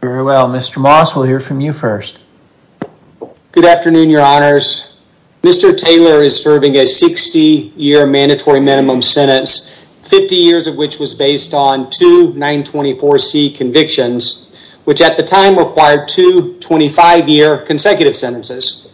Very well, Mr. Moss, we'll hear from you first. Good afternoon, your honors. Mr. Taylor is serving a 60-year mandatory minimum sentence, 50 years of which was based on two 924c convictions, which at the time required two 25-year consecutive sentences.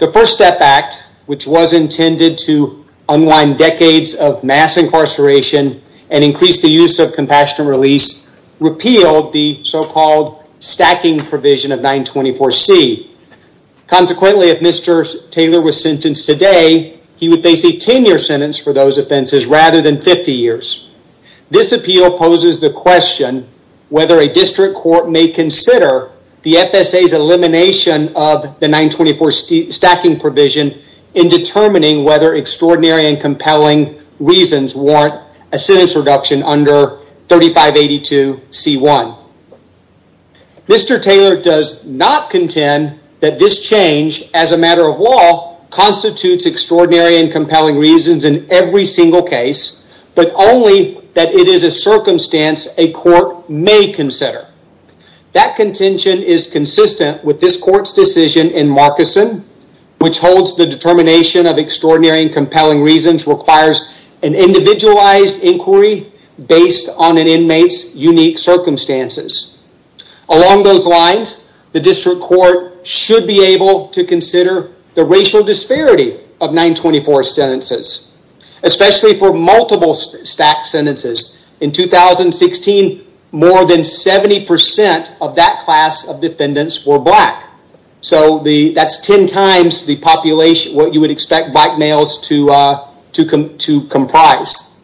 The First Step Act, which was intended to unwind decades of mass incarceration and increase the use of compassion release, repealed the so-called stacking provision of 924c. Consequently, if Mr. Taylor was sentenced today, he would face a 10-year sentence for those offenses rather than 50 years. This appeal poses the question whether a district court may consider the FSA's elimination of the 924c stacking provision in determining whether extraordinary and compelling reasons warrant a sentence reduction under 3582c1. Mr. Taylor does not contend that this change as a matter of law constitutes extraordinary and compelling reasons in every single case, but only that it is a circumstance a court may consider. That contention is consistent with this court's decision in Marcuson, which holds the determination of extraordinary and compelling reasons requires an inmate's unique circumstances. Along those lines, the district court should be able to consider the racial disparity of 924c sentences, especially for multiple stacked sentences. In 2016, more than 70% of that class of defendants were black. So that's ten times the population, what you would expect black males to comprise.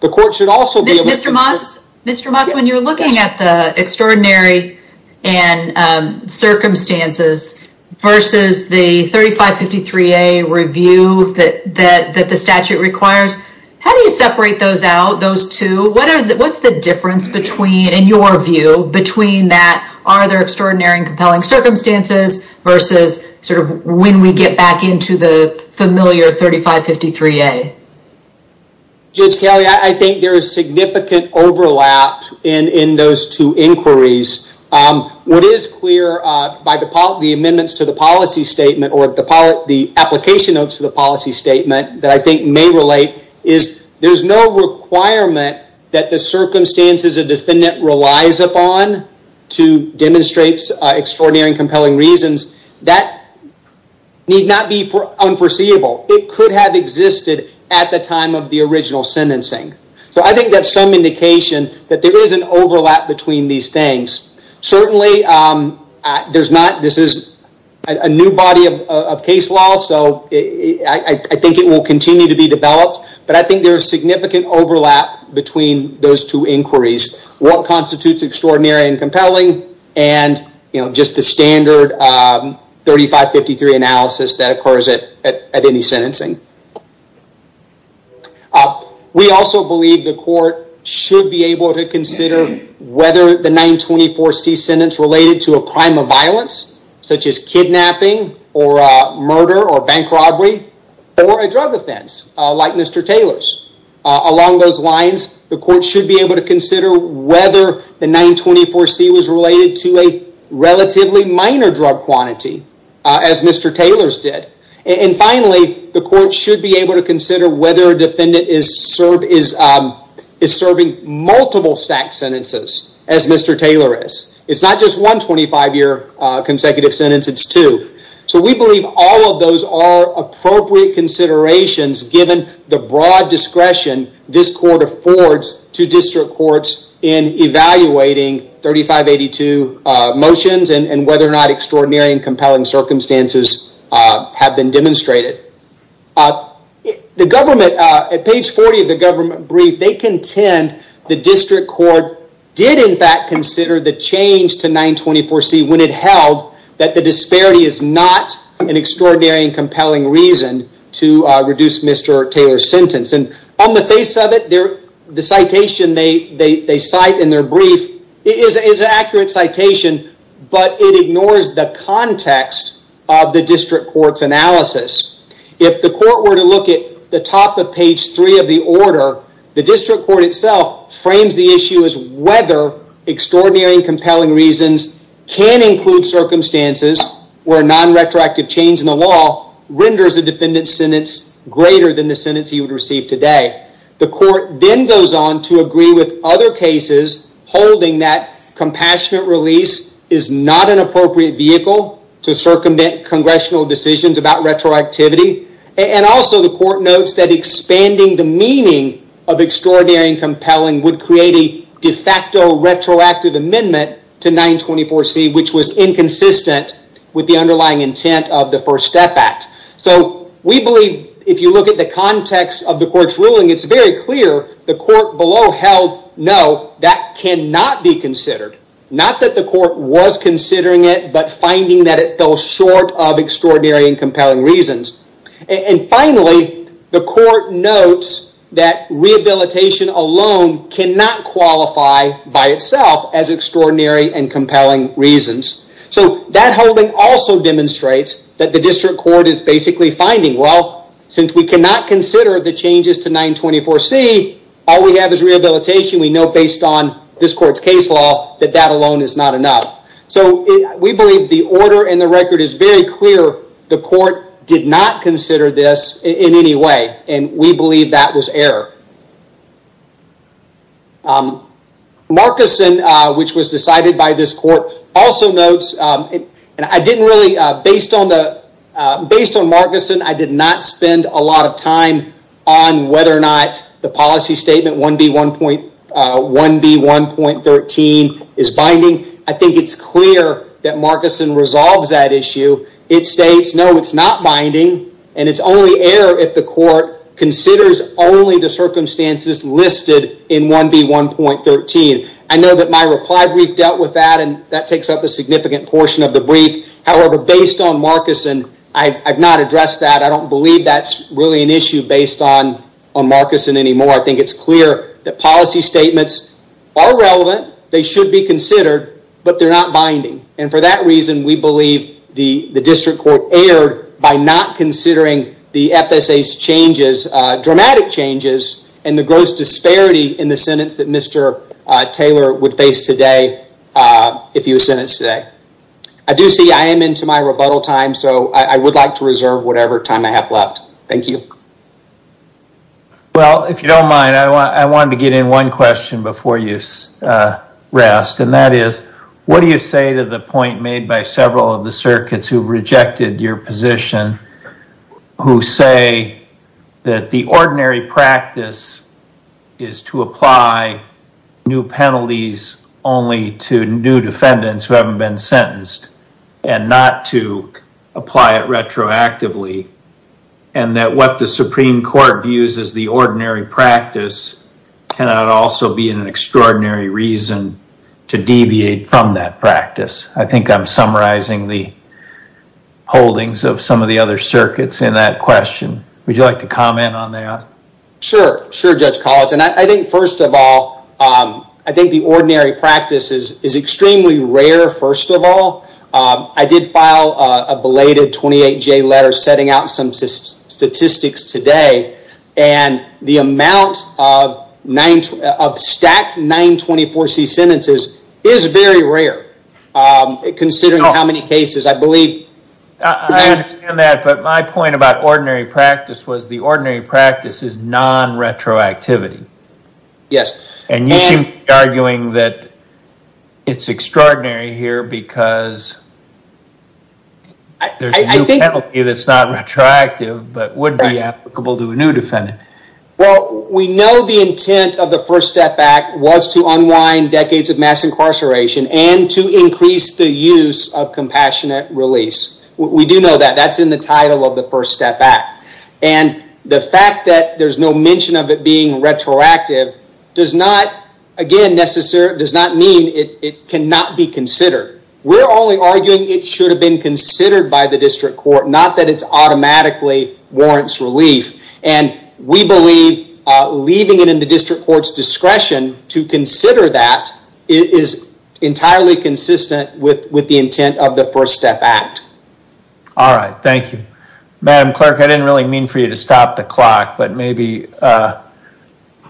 The court should also... Mr. Moss, Mr. Moss, when you're looking at the extraordinary and circumstances versus the 3553a review that the statute requires, how do you separate those out, those two? What's the difference between, in your view, between that, are there extraordinary and compelling circumstances versus sort of when we get back into the familiar 3553a? Judge Kelly, I think there is significant overlap in in those two inquiries. What is clear by the amendments to the policy statement or the application notes to the policy statement that I think may relate is there's no requirement that the circumstances a defendant relies upon to demonstrate extraordinary and compelling reasons. That need not be for unforeseeable. It could have existed at the time of the original sentencing. So I think that's some indication that there is an overlap between these things. Certainly, there's not, this is a new body of case law, so I think it will continue to be developed, but I think there's significant overlap between those two inquiries. What constitutes extraordinary and compelling and, you know, just the standard 3553 analysis that occurs at any sentencing. We also believe the court should be able to consider whether the 924C sentence related to a crime of violence, such as kidnapping or murder or bank robbery or a drug offense, like Mr. Taylor's. Along those lines, the court should be able to consider whether the 924C was related to a drug quantity, as Mr. Taylor's did. And finally, the court should be able to consider whether a defendant is serving multiple stacked sentences, as Mr. Taylor is. It's not just one 25-year consecutive sentence, it's two. So we believe all of those are appropriate considerations given the broad discretion this court affords to district courts in evaluating 3582 motions and whether or not extraordinary and compelling circumstances have been demonstrated. The government, at page 40 of the government brief, they contend the district court did in fact consider the change to 924C when it held that the disparity is not an extraordinary and compelling reason to reduce Mr. Taylor's sentence. And on the face of it, the citation they cite in their brief is an accurate citation, but it ignores the context of the district court's analysis. If the court were to look at the top of page 3 of the order, the district court itself frames the issue as whether extraordinary and compelling reasons can include circumstances where a non-retroactive change in the law renders a defendant's sentence greater than the sentence he would receive today. The court then goes on to agree with other cases holding that compassionate release is not an appropriate vehicle to circumvent congressional decisions about retroactivity. And also the court notes that expanding the meaning of extraordinary and compelling would create a de facto retroactive amendment to 924C, which was inconsistent with the underlying intent of the First Step Act. So we believe if you look at the context of the court's ruling, it's very clear the court below held no, that cannot be considered. Not that the court was considering it, but finding that it fell short of extraordinary and compelling reasons. And finally, the court notes that rehabilitation alone cannot qualify by itself as extraordinary and compelling reasons. So that holding also demonstrates that the district court is basically finding, well, since we cannot consider the changes to 924C, all we have is rehabilitation. We know based on this court's case law that that alone is not enough. So we believe the order and the record is very clear. The court did not consider this in any way and we believe that was error. Markeson, which was decided by this court, also notes, and I didn't really, based on Markeson, I did not spend a lot of time on whether or not the policy statement 1B1.13 is binding. I think it's clear that Markeson resolves that issue. It states, no, it's not binding and it's only error if the court considers only the circumstances listed in 1B1.13. I know that my reply brief dealt with that and that takes up a significant portion of the brief. However, based on Markeson, I have not addressed that. I don't believe that's really an issue based on Markeson anymore. I think it's clear that policy statements are relevant. They should be considered, but they're not binding. And for that reason, we believe the district court erred by not considering the FSA's changes, dramatic changes, and the gross disparity in the sentence that Mr. Taylor would face today, if he was sentenced today. I do see I am into my rebuttal time, so I would like to reserve whatever time I have left. Thank you. Well, if you don't mind, I wanted to get in one question before you rest, and that is, what do you say to the point made by several of the circuits who rejected your position, who say that the ordinary practice is to apply new penalties only to new defendants who haven't been sentenced, and not to apply it retroactively, and that what the Supreme Court views as the ordinary practice cannot also be an extraordinary reason to deviate from that practice. I think I'm summarizing the holdings of some of the other circuits in that question. Would you like to comment on that? Sure. Sure, Judge Collins. And I think, first of all, I think the ordinary practice is extremely rare, first of all, I did file a belated 28-J letter setting out some statistics today, and the amount of stacked 924-C sentences is very rare, considering how many cases, I believe... I understand that, but my point about ordinary practice was the ordinary practice is non-retroactivity. Yes. And you seem to be arguing that it's extraordinary here because there's a new penalty that's not retroactive, but would be applicable to a new defendant. Well, we know the intent of the First Step Act was to unwind decades of mass incarceration and to increase the use of compassionate release. We do know that. That's in the title of the First Step Act. And the fact that there's no mention of it being retroactive does not, again, necessarily, does not mean it cannot be considered. We're only arguing it should have been considered by the district court, not that it automatically warrants relief. And we believe leaving it in the district court's discretion to consider that is entirely consistent with the intent of the First Step Act. All right. Thank you. Madam Clerk, I didn't really mean for you to stop the clock, but maybe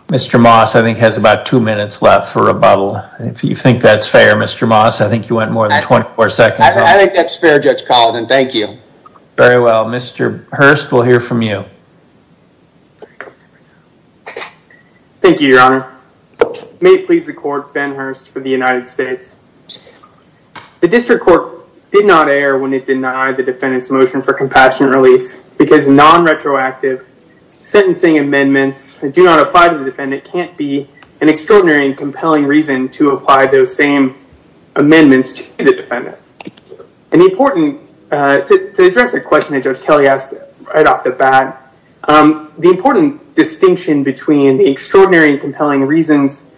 Mr. Moss, I think, has about two minutes left for rebuttal. If you think that's fair, Mr. Moss, I think you went more than 24 seconds. I think that's fair, Judge Colligan. Thank you. Very well. Mr. Hurst, we'll hear from you. Thank you, Your Honor. May it please the court, Ben Hurst for the United States. The district court did not err when it denied the defendant's motion for compassionate release because non-retroactive sentencing amendments do not apply to the defendant, can't be an extraordinary and compelling reason to apply those same amendments to the defendant. To address a question that Judge Kelly asked right off the bat, the important distinction between the extraordinary and compelling reasons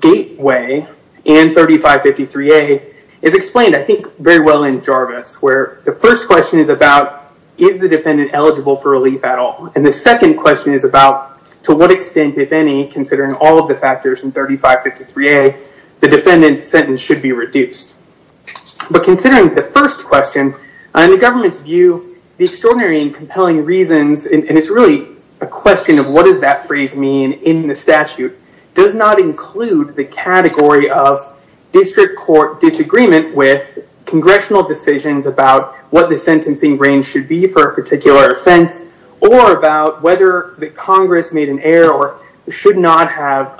gateway and 3553A is explained, I think, very well in Jarvis, where the first question is about is the defendant eligible for relief at all? And the second question is about to what extent, if any, considering all of the factors in 3553A, the defendant's sentence should be reduced. But considering the first question, in the government's view, the extraordinary and compelling reasons, and it's really a question of what does that phrase mean in the statute, does not include the category of district court disagreement with congressional decisions about what the sentencing range should be for a particular offense or about whether the Congress made an error or should not have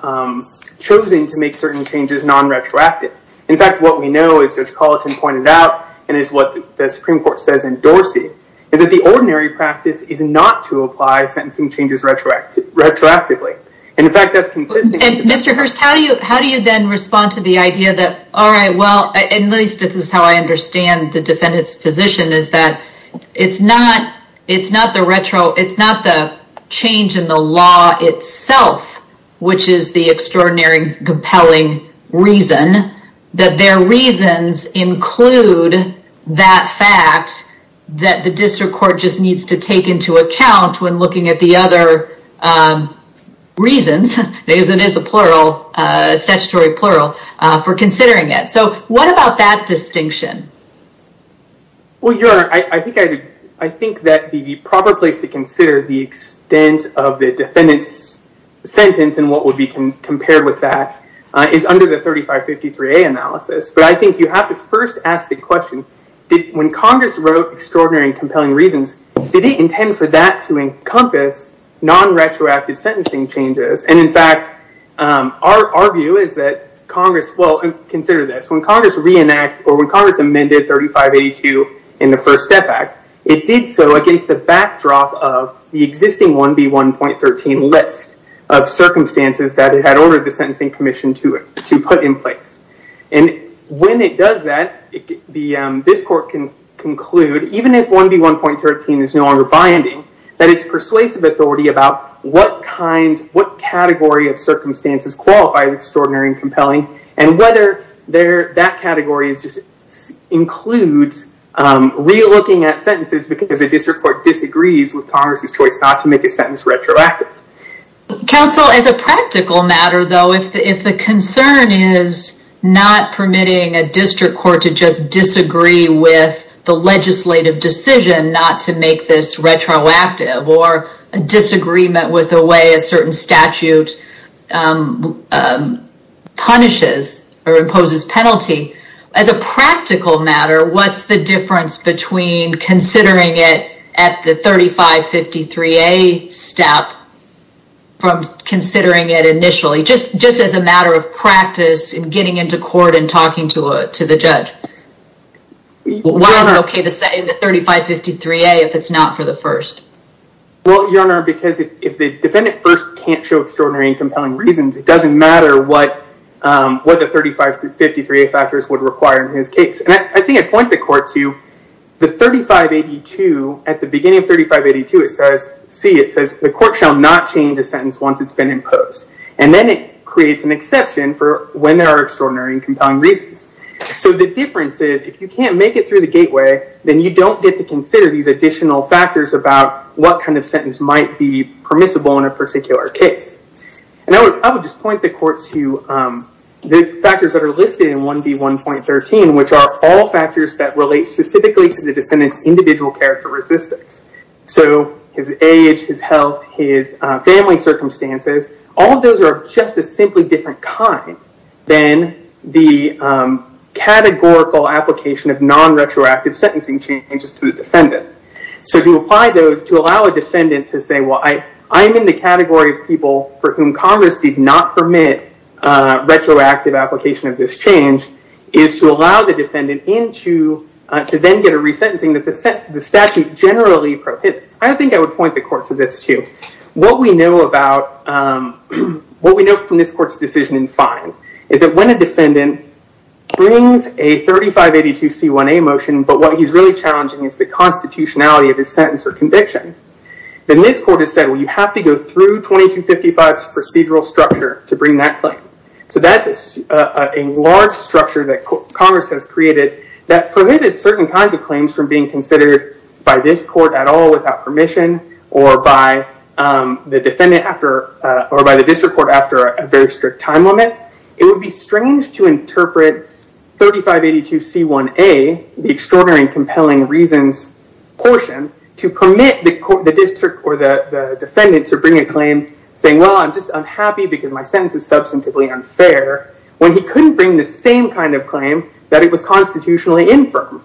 chosen to make certain changes non-retroactive. In fact, what we know, as Judge Colleton pointed out, and is what the Supreme Court says in Dorsey, is that the ordinary practice is not to apply sentencing changes retroactively. Mr. Hurst, how do you then respond to the idea that, all right, well, at least this is how I understand the defendant's position, is that it's not the change in the law itself, which is the extraordinary, compelling reason, that their reasons include that fact that the district court just needs to take into account when looking at the other reasons, because it is a statutory plural, for considering it. So what about that distinction? Well, Your Honor, I think that the proper place to consider the extent of the defendant's sentence and what would be compared with that is under the 3553A analysis. But I think you have to first ask the question, when Congress wrote extraordinary and compelling reasons, did it intend for that to encompass non-retroactive sentencing changes? And in fact, our view is that Congress, well, consider this, when Congress amended 3582 in the First Step Act, it did so against the backdrop of the existing 1B1.13 list of circumstances that it had ordered the Sentencing Commission to put in place. And when it does that, this court can conclude, even if 1B1.13 is no longer binding, that it's persuasive authority about what category of circumstances qualifies extraordinary and compelling, and whether that category includes re-looking at sentences because the district court disagrees with Congress' choice not to make a sentence retroactive. Counsel, as a practical matter, though, if the concern is not permitting a district court to just disagree with the legislative decision not to make this retroactive or a disagreement with the way a certain statute punishes or imposes penalty, as a practical matter, what's the difference between considering it at the 3553A step from considering it initially, just as a matter of practice in getting into court and talking to the judge? Why is it okay to say the 3553A if it's not for the First? Well, Your Honor, because if the defendant first can't show extraordinary and compelling reasons, it doesn't matter what the 3553A factors would require in his case. And I think I'd point the court to the 3582. At the beginning of 3582, it says, see, it says, the court shall not change a sentence once it's been imposed. And then it creates an exception for when there are extraordinary and compelling reasons. So the difference is, if you can't make it through the gateway, then you don't get to consider these additional factors about what kind of sentence might be permissible in a particular case. And I would just point the court to the factors that are listed in 1D1.13, which are all factors that relate specifically to the defendant's individual characteristics. So his age, his health, his family circumstances, all of those are just a simply different kind than the categorical application of non-retroactive sentencing changes to the defendant. So to apply those, to allow a defendant to say, well, I am in the category of people for whom Congress did not permit retroactive application of this change, is to allow the defendant to then get a resentencing that the statute generally prohibits. I think I would point the court to this too. What we know from this court's decision in fine is that when a defendant brings a 3582C1A motion, but what he's really challenging is the constitutionality of his sentence or conviction, then this court has said, well, you have to go through 2255's procedural structure to bring that claim. So that's a large structure that Congress has created that prohibited certain kinds of claims from being considered by this court at all without permission or by the district court after a very strict time limit. It would be strange to interpret 3582C1A, the extraordinary and compelling reasons portion, to permit the district or the defendant to bring a claim saying, well, I'm just unhappy because my sentence is substantively unfair, when he couldn't bring the same kind of claim that it was constitutionally infirm.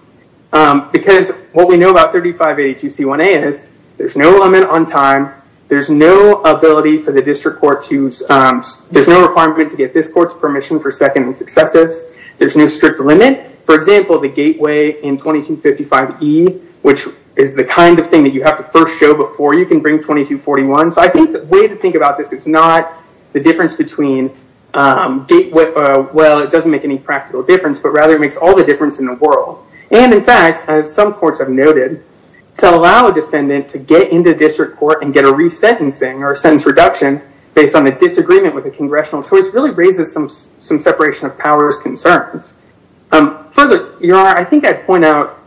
Because what we know about 3582C1A is there's no limit on time. There's no ability for the district court to... There's no requirement to get this court's permission for second and successives. There's no strict limit. For example, the gateway in 2255E, which is the kind of thing that you have to first show before you can bring 2241. So I think the way to think about this is not the difference between... Well, it doesn't make any practical difference, but rather it makes all the difference in the world. And in fact, as some courts have noted, to allow a defendant to get into district court and get a resentencing or a sentence reduction based on a disagreement with a congressional choice really raises some separation of powers concerns. Further, Your Honor, I think I'd point out...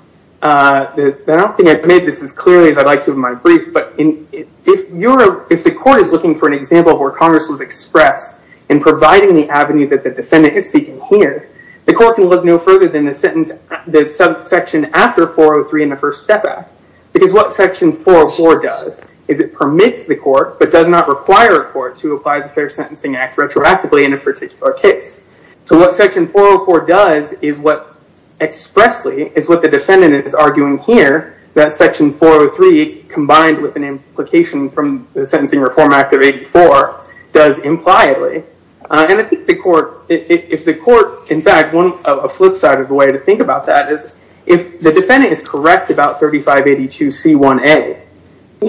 I don't think I've made this as clearly as I'd like to in my brief, but if the court is looking for an example of where Congress was expressed in providing the avenue that the defendant is seeking here, the court can look no further than the section after 403 in the First Step Act, because what section 404 does is it permits the court but does not require a court to apply the Fair Sentencing Act retroactively in a particular case. So what section 404 does is what expressly is what the defendant is arguing here that section 403 combined with an implication from the Sentencing Reform Act of 84 does impliedly. And I think the court... If the court... In fact, a flip side of the way to think about that is if the defendant is correct about 3582C1A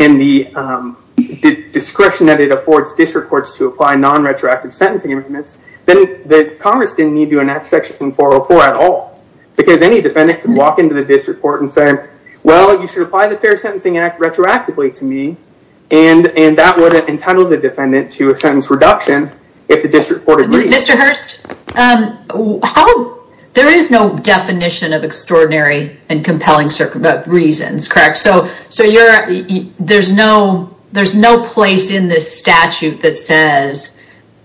and the discretion that it affords district courts to apply non-retroactive sentencing amendments, then Congress didn't need to enact section 404 at all because any defendant can walk into the district court and say, well, you should apply the Fair Sentencing Act retroactively to me, and that would entitle the defendant to a sentence reduction if the district court agrees. Mr. Hurst, there is no definition of extraordinary and compelling reasons, correct? So there's no place in this statute that says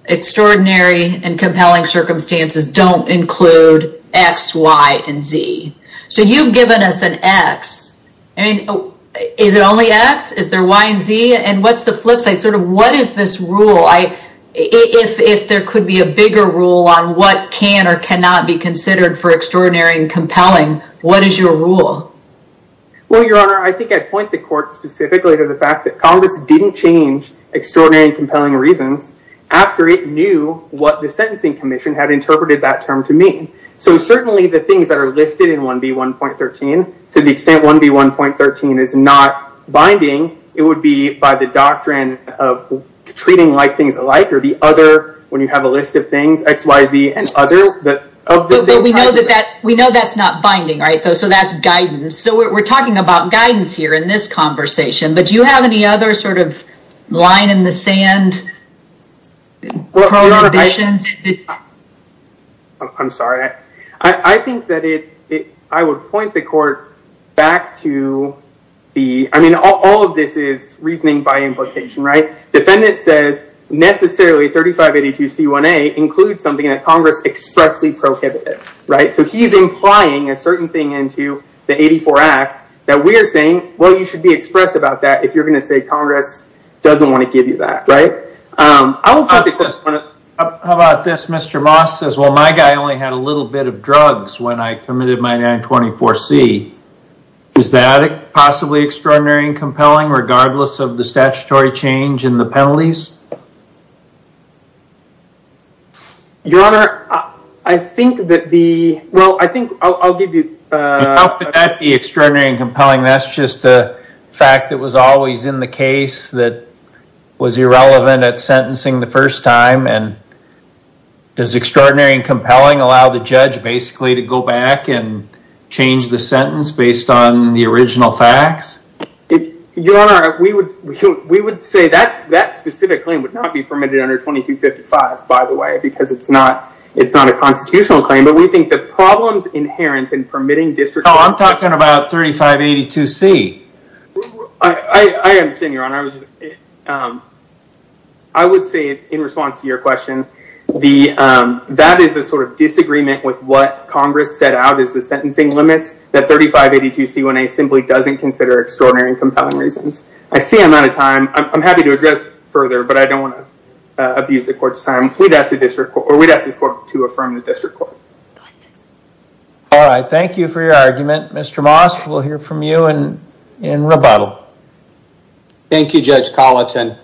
extraordinary and compelling circumstances don't include X, Y, and Z. So you've given us an X. Is it only X? Is there Y and Z? And what's the flip side? Sort of what is this rule? If there could be a bigger rule on what can or cannot be considered for extraordinary and compelling, what is your rule? Well, Your Honor, I think I'd point the court specifically to the fact that Congress didn't change extraordinary and compelling reasons after it knew what the Sentencing Commission had interpreted that term to mean. So certainly the things that are listed in 1B1.13, to the extent 1B1.13 is not binding, it would be by the doctrine of treating like things alike, or the other, when you have a list of things, X, Y, Z, and other. But we know that's not binding, right? So that's guidance. So we're talking about guidance here in this conversation. But do you have any other sort of line in the sand prohibitions? I'm sorry. I think that I would point the court back to the, I mean, all of this is reasoning by implication, right? Defendant says necessarily 3582C1A includes something that Congress expressly prohibited, right? So he's implying a certain thing into the 84 Act that we are saying, well, you should be express about that if you're going to say Congress doesn't want to give you that, right? How about this? Mr. Moss says, well, my guy only had a little bit of drugs when I committed my 924C. Is that possibly extraordinary and compelling regardless of the statutory change in the penalties? Your Honor, I think that the, well, I think I'll give you. How could that be extraordinary and compelling? That's just a fact that was always in the case that was irrelevant at sentencing the first time. And does extraordinary and compelling allow the judge basically to go back and change the sentence based on the original facts? Your Honor, we would say that that specific claim would not be permitted under 2255, by the way, because it's not a constitutional claim. But we think the problems inherent in permitting district. I'm talking about 3582C. I understand, Your Honor. I would say in response to your question, that is a sort of disagreement with what Congress set out as the sentencing limits that 3582C1A simply doesn't consider extraordinary and compelling reasons. I see I'm out of time. I'm happy to address further, but I don't want to abuse the court's time. We'd ask the district or we'd ask this court to affirm the district court. All right. Thank you for your argument. Mr. Moss, we'll hear from you in rebuttal. Thank you, Judge Colleton.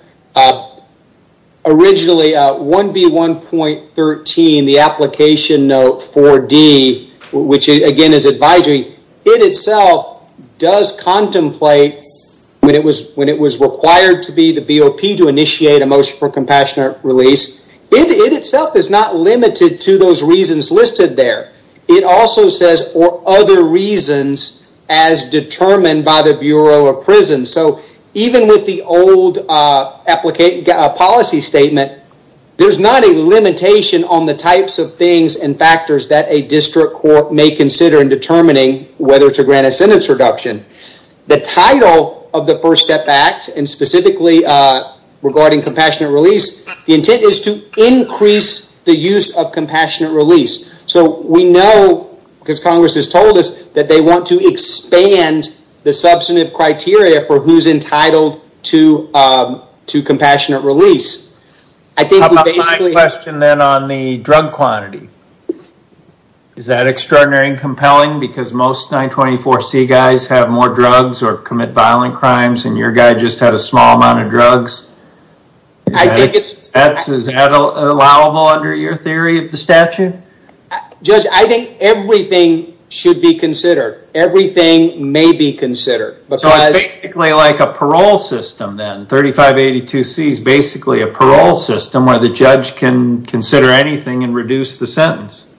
Originally, 1B1.13, the application note 4D, which again is advisory, it itself does contemplate when it was required to be the BOP to initiate a motion for compassionate release. It itself is not limited to those reasons listed there. It also says, or other reasons as determined by the Bureau of Prisons. So even with the old policy statement, there's not a limitation on the types of things and factors that a district court may consider in determining whether to grant a sentence reduction. The title of the First Step Act, and specifically regarding compassionate release, the intent is to increase the use of compassionate release. So we know, because Congress has told us, that they want to expand the substantive criteria for who's entitled to compassionate release. My question then on the drug quantity. Is that extraordinary and compelling because most 924C guys have more drugs or commit violent crimes, and your guy just had a small amount of drugs? Is that allowable under your theory of the statute? Judge, I think everything should be considered. Everything may be considered. So it's basically like a parole system then. 3582C is basically a parole system where the judge can consider anything and reduce the sentence.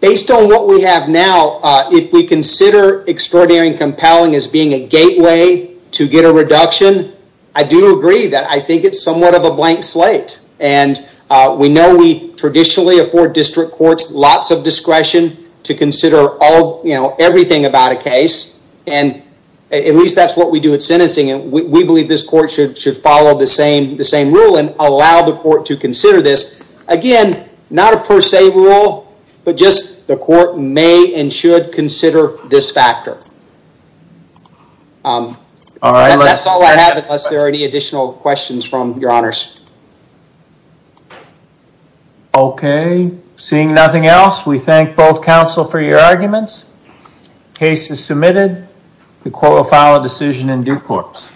Based on what we have now, if we consider extraordinary and compelling as being a gateway to get a reduction, I do agree that I think it's somewhat of a blank slate. We know we traditionally afford district courts lots of discretion to consider everything about a case. At least that's what we do at sentencing. We believe this court should follow the same rule and allow the court to consider this. Again, not a per se rule, but just the court may and should consider this factor. That's all I have unless there are any additional questions from your honors. Okay. Seeing nothing else, we thank both counsel for your arguments. Case is submitted. The court will file a decision in due course.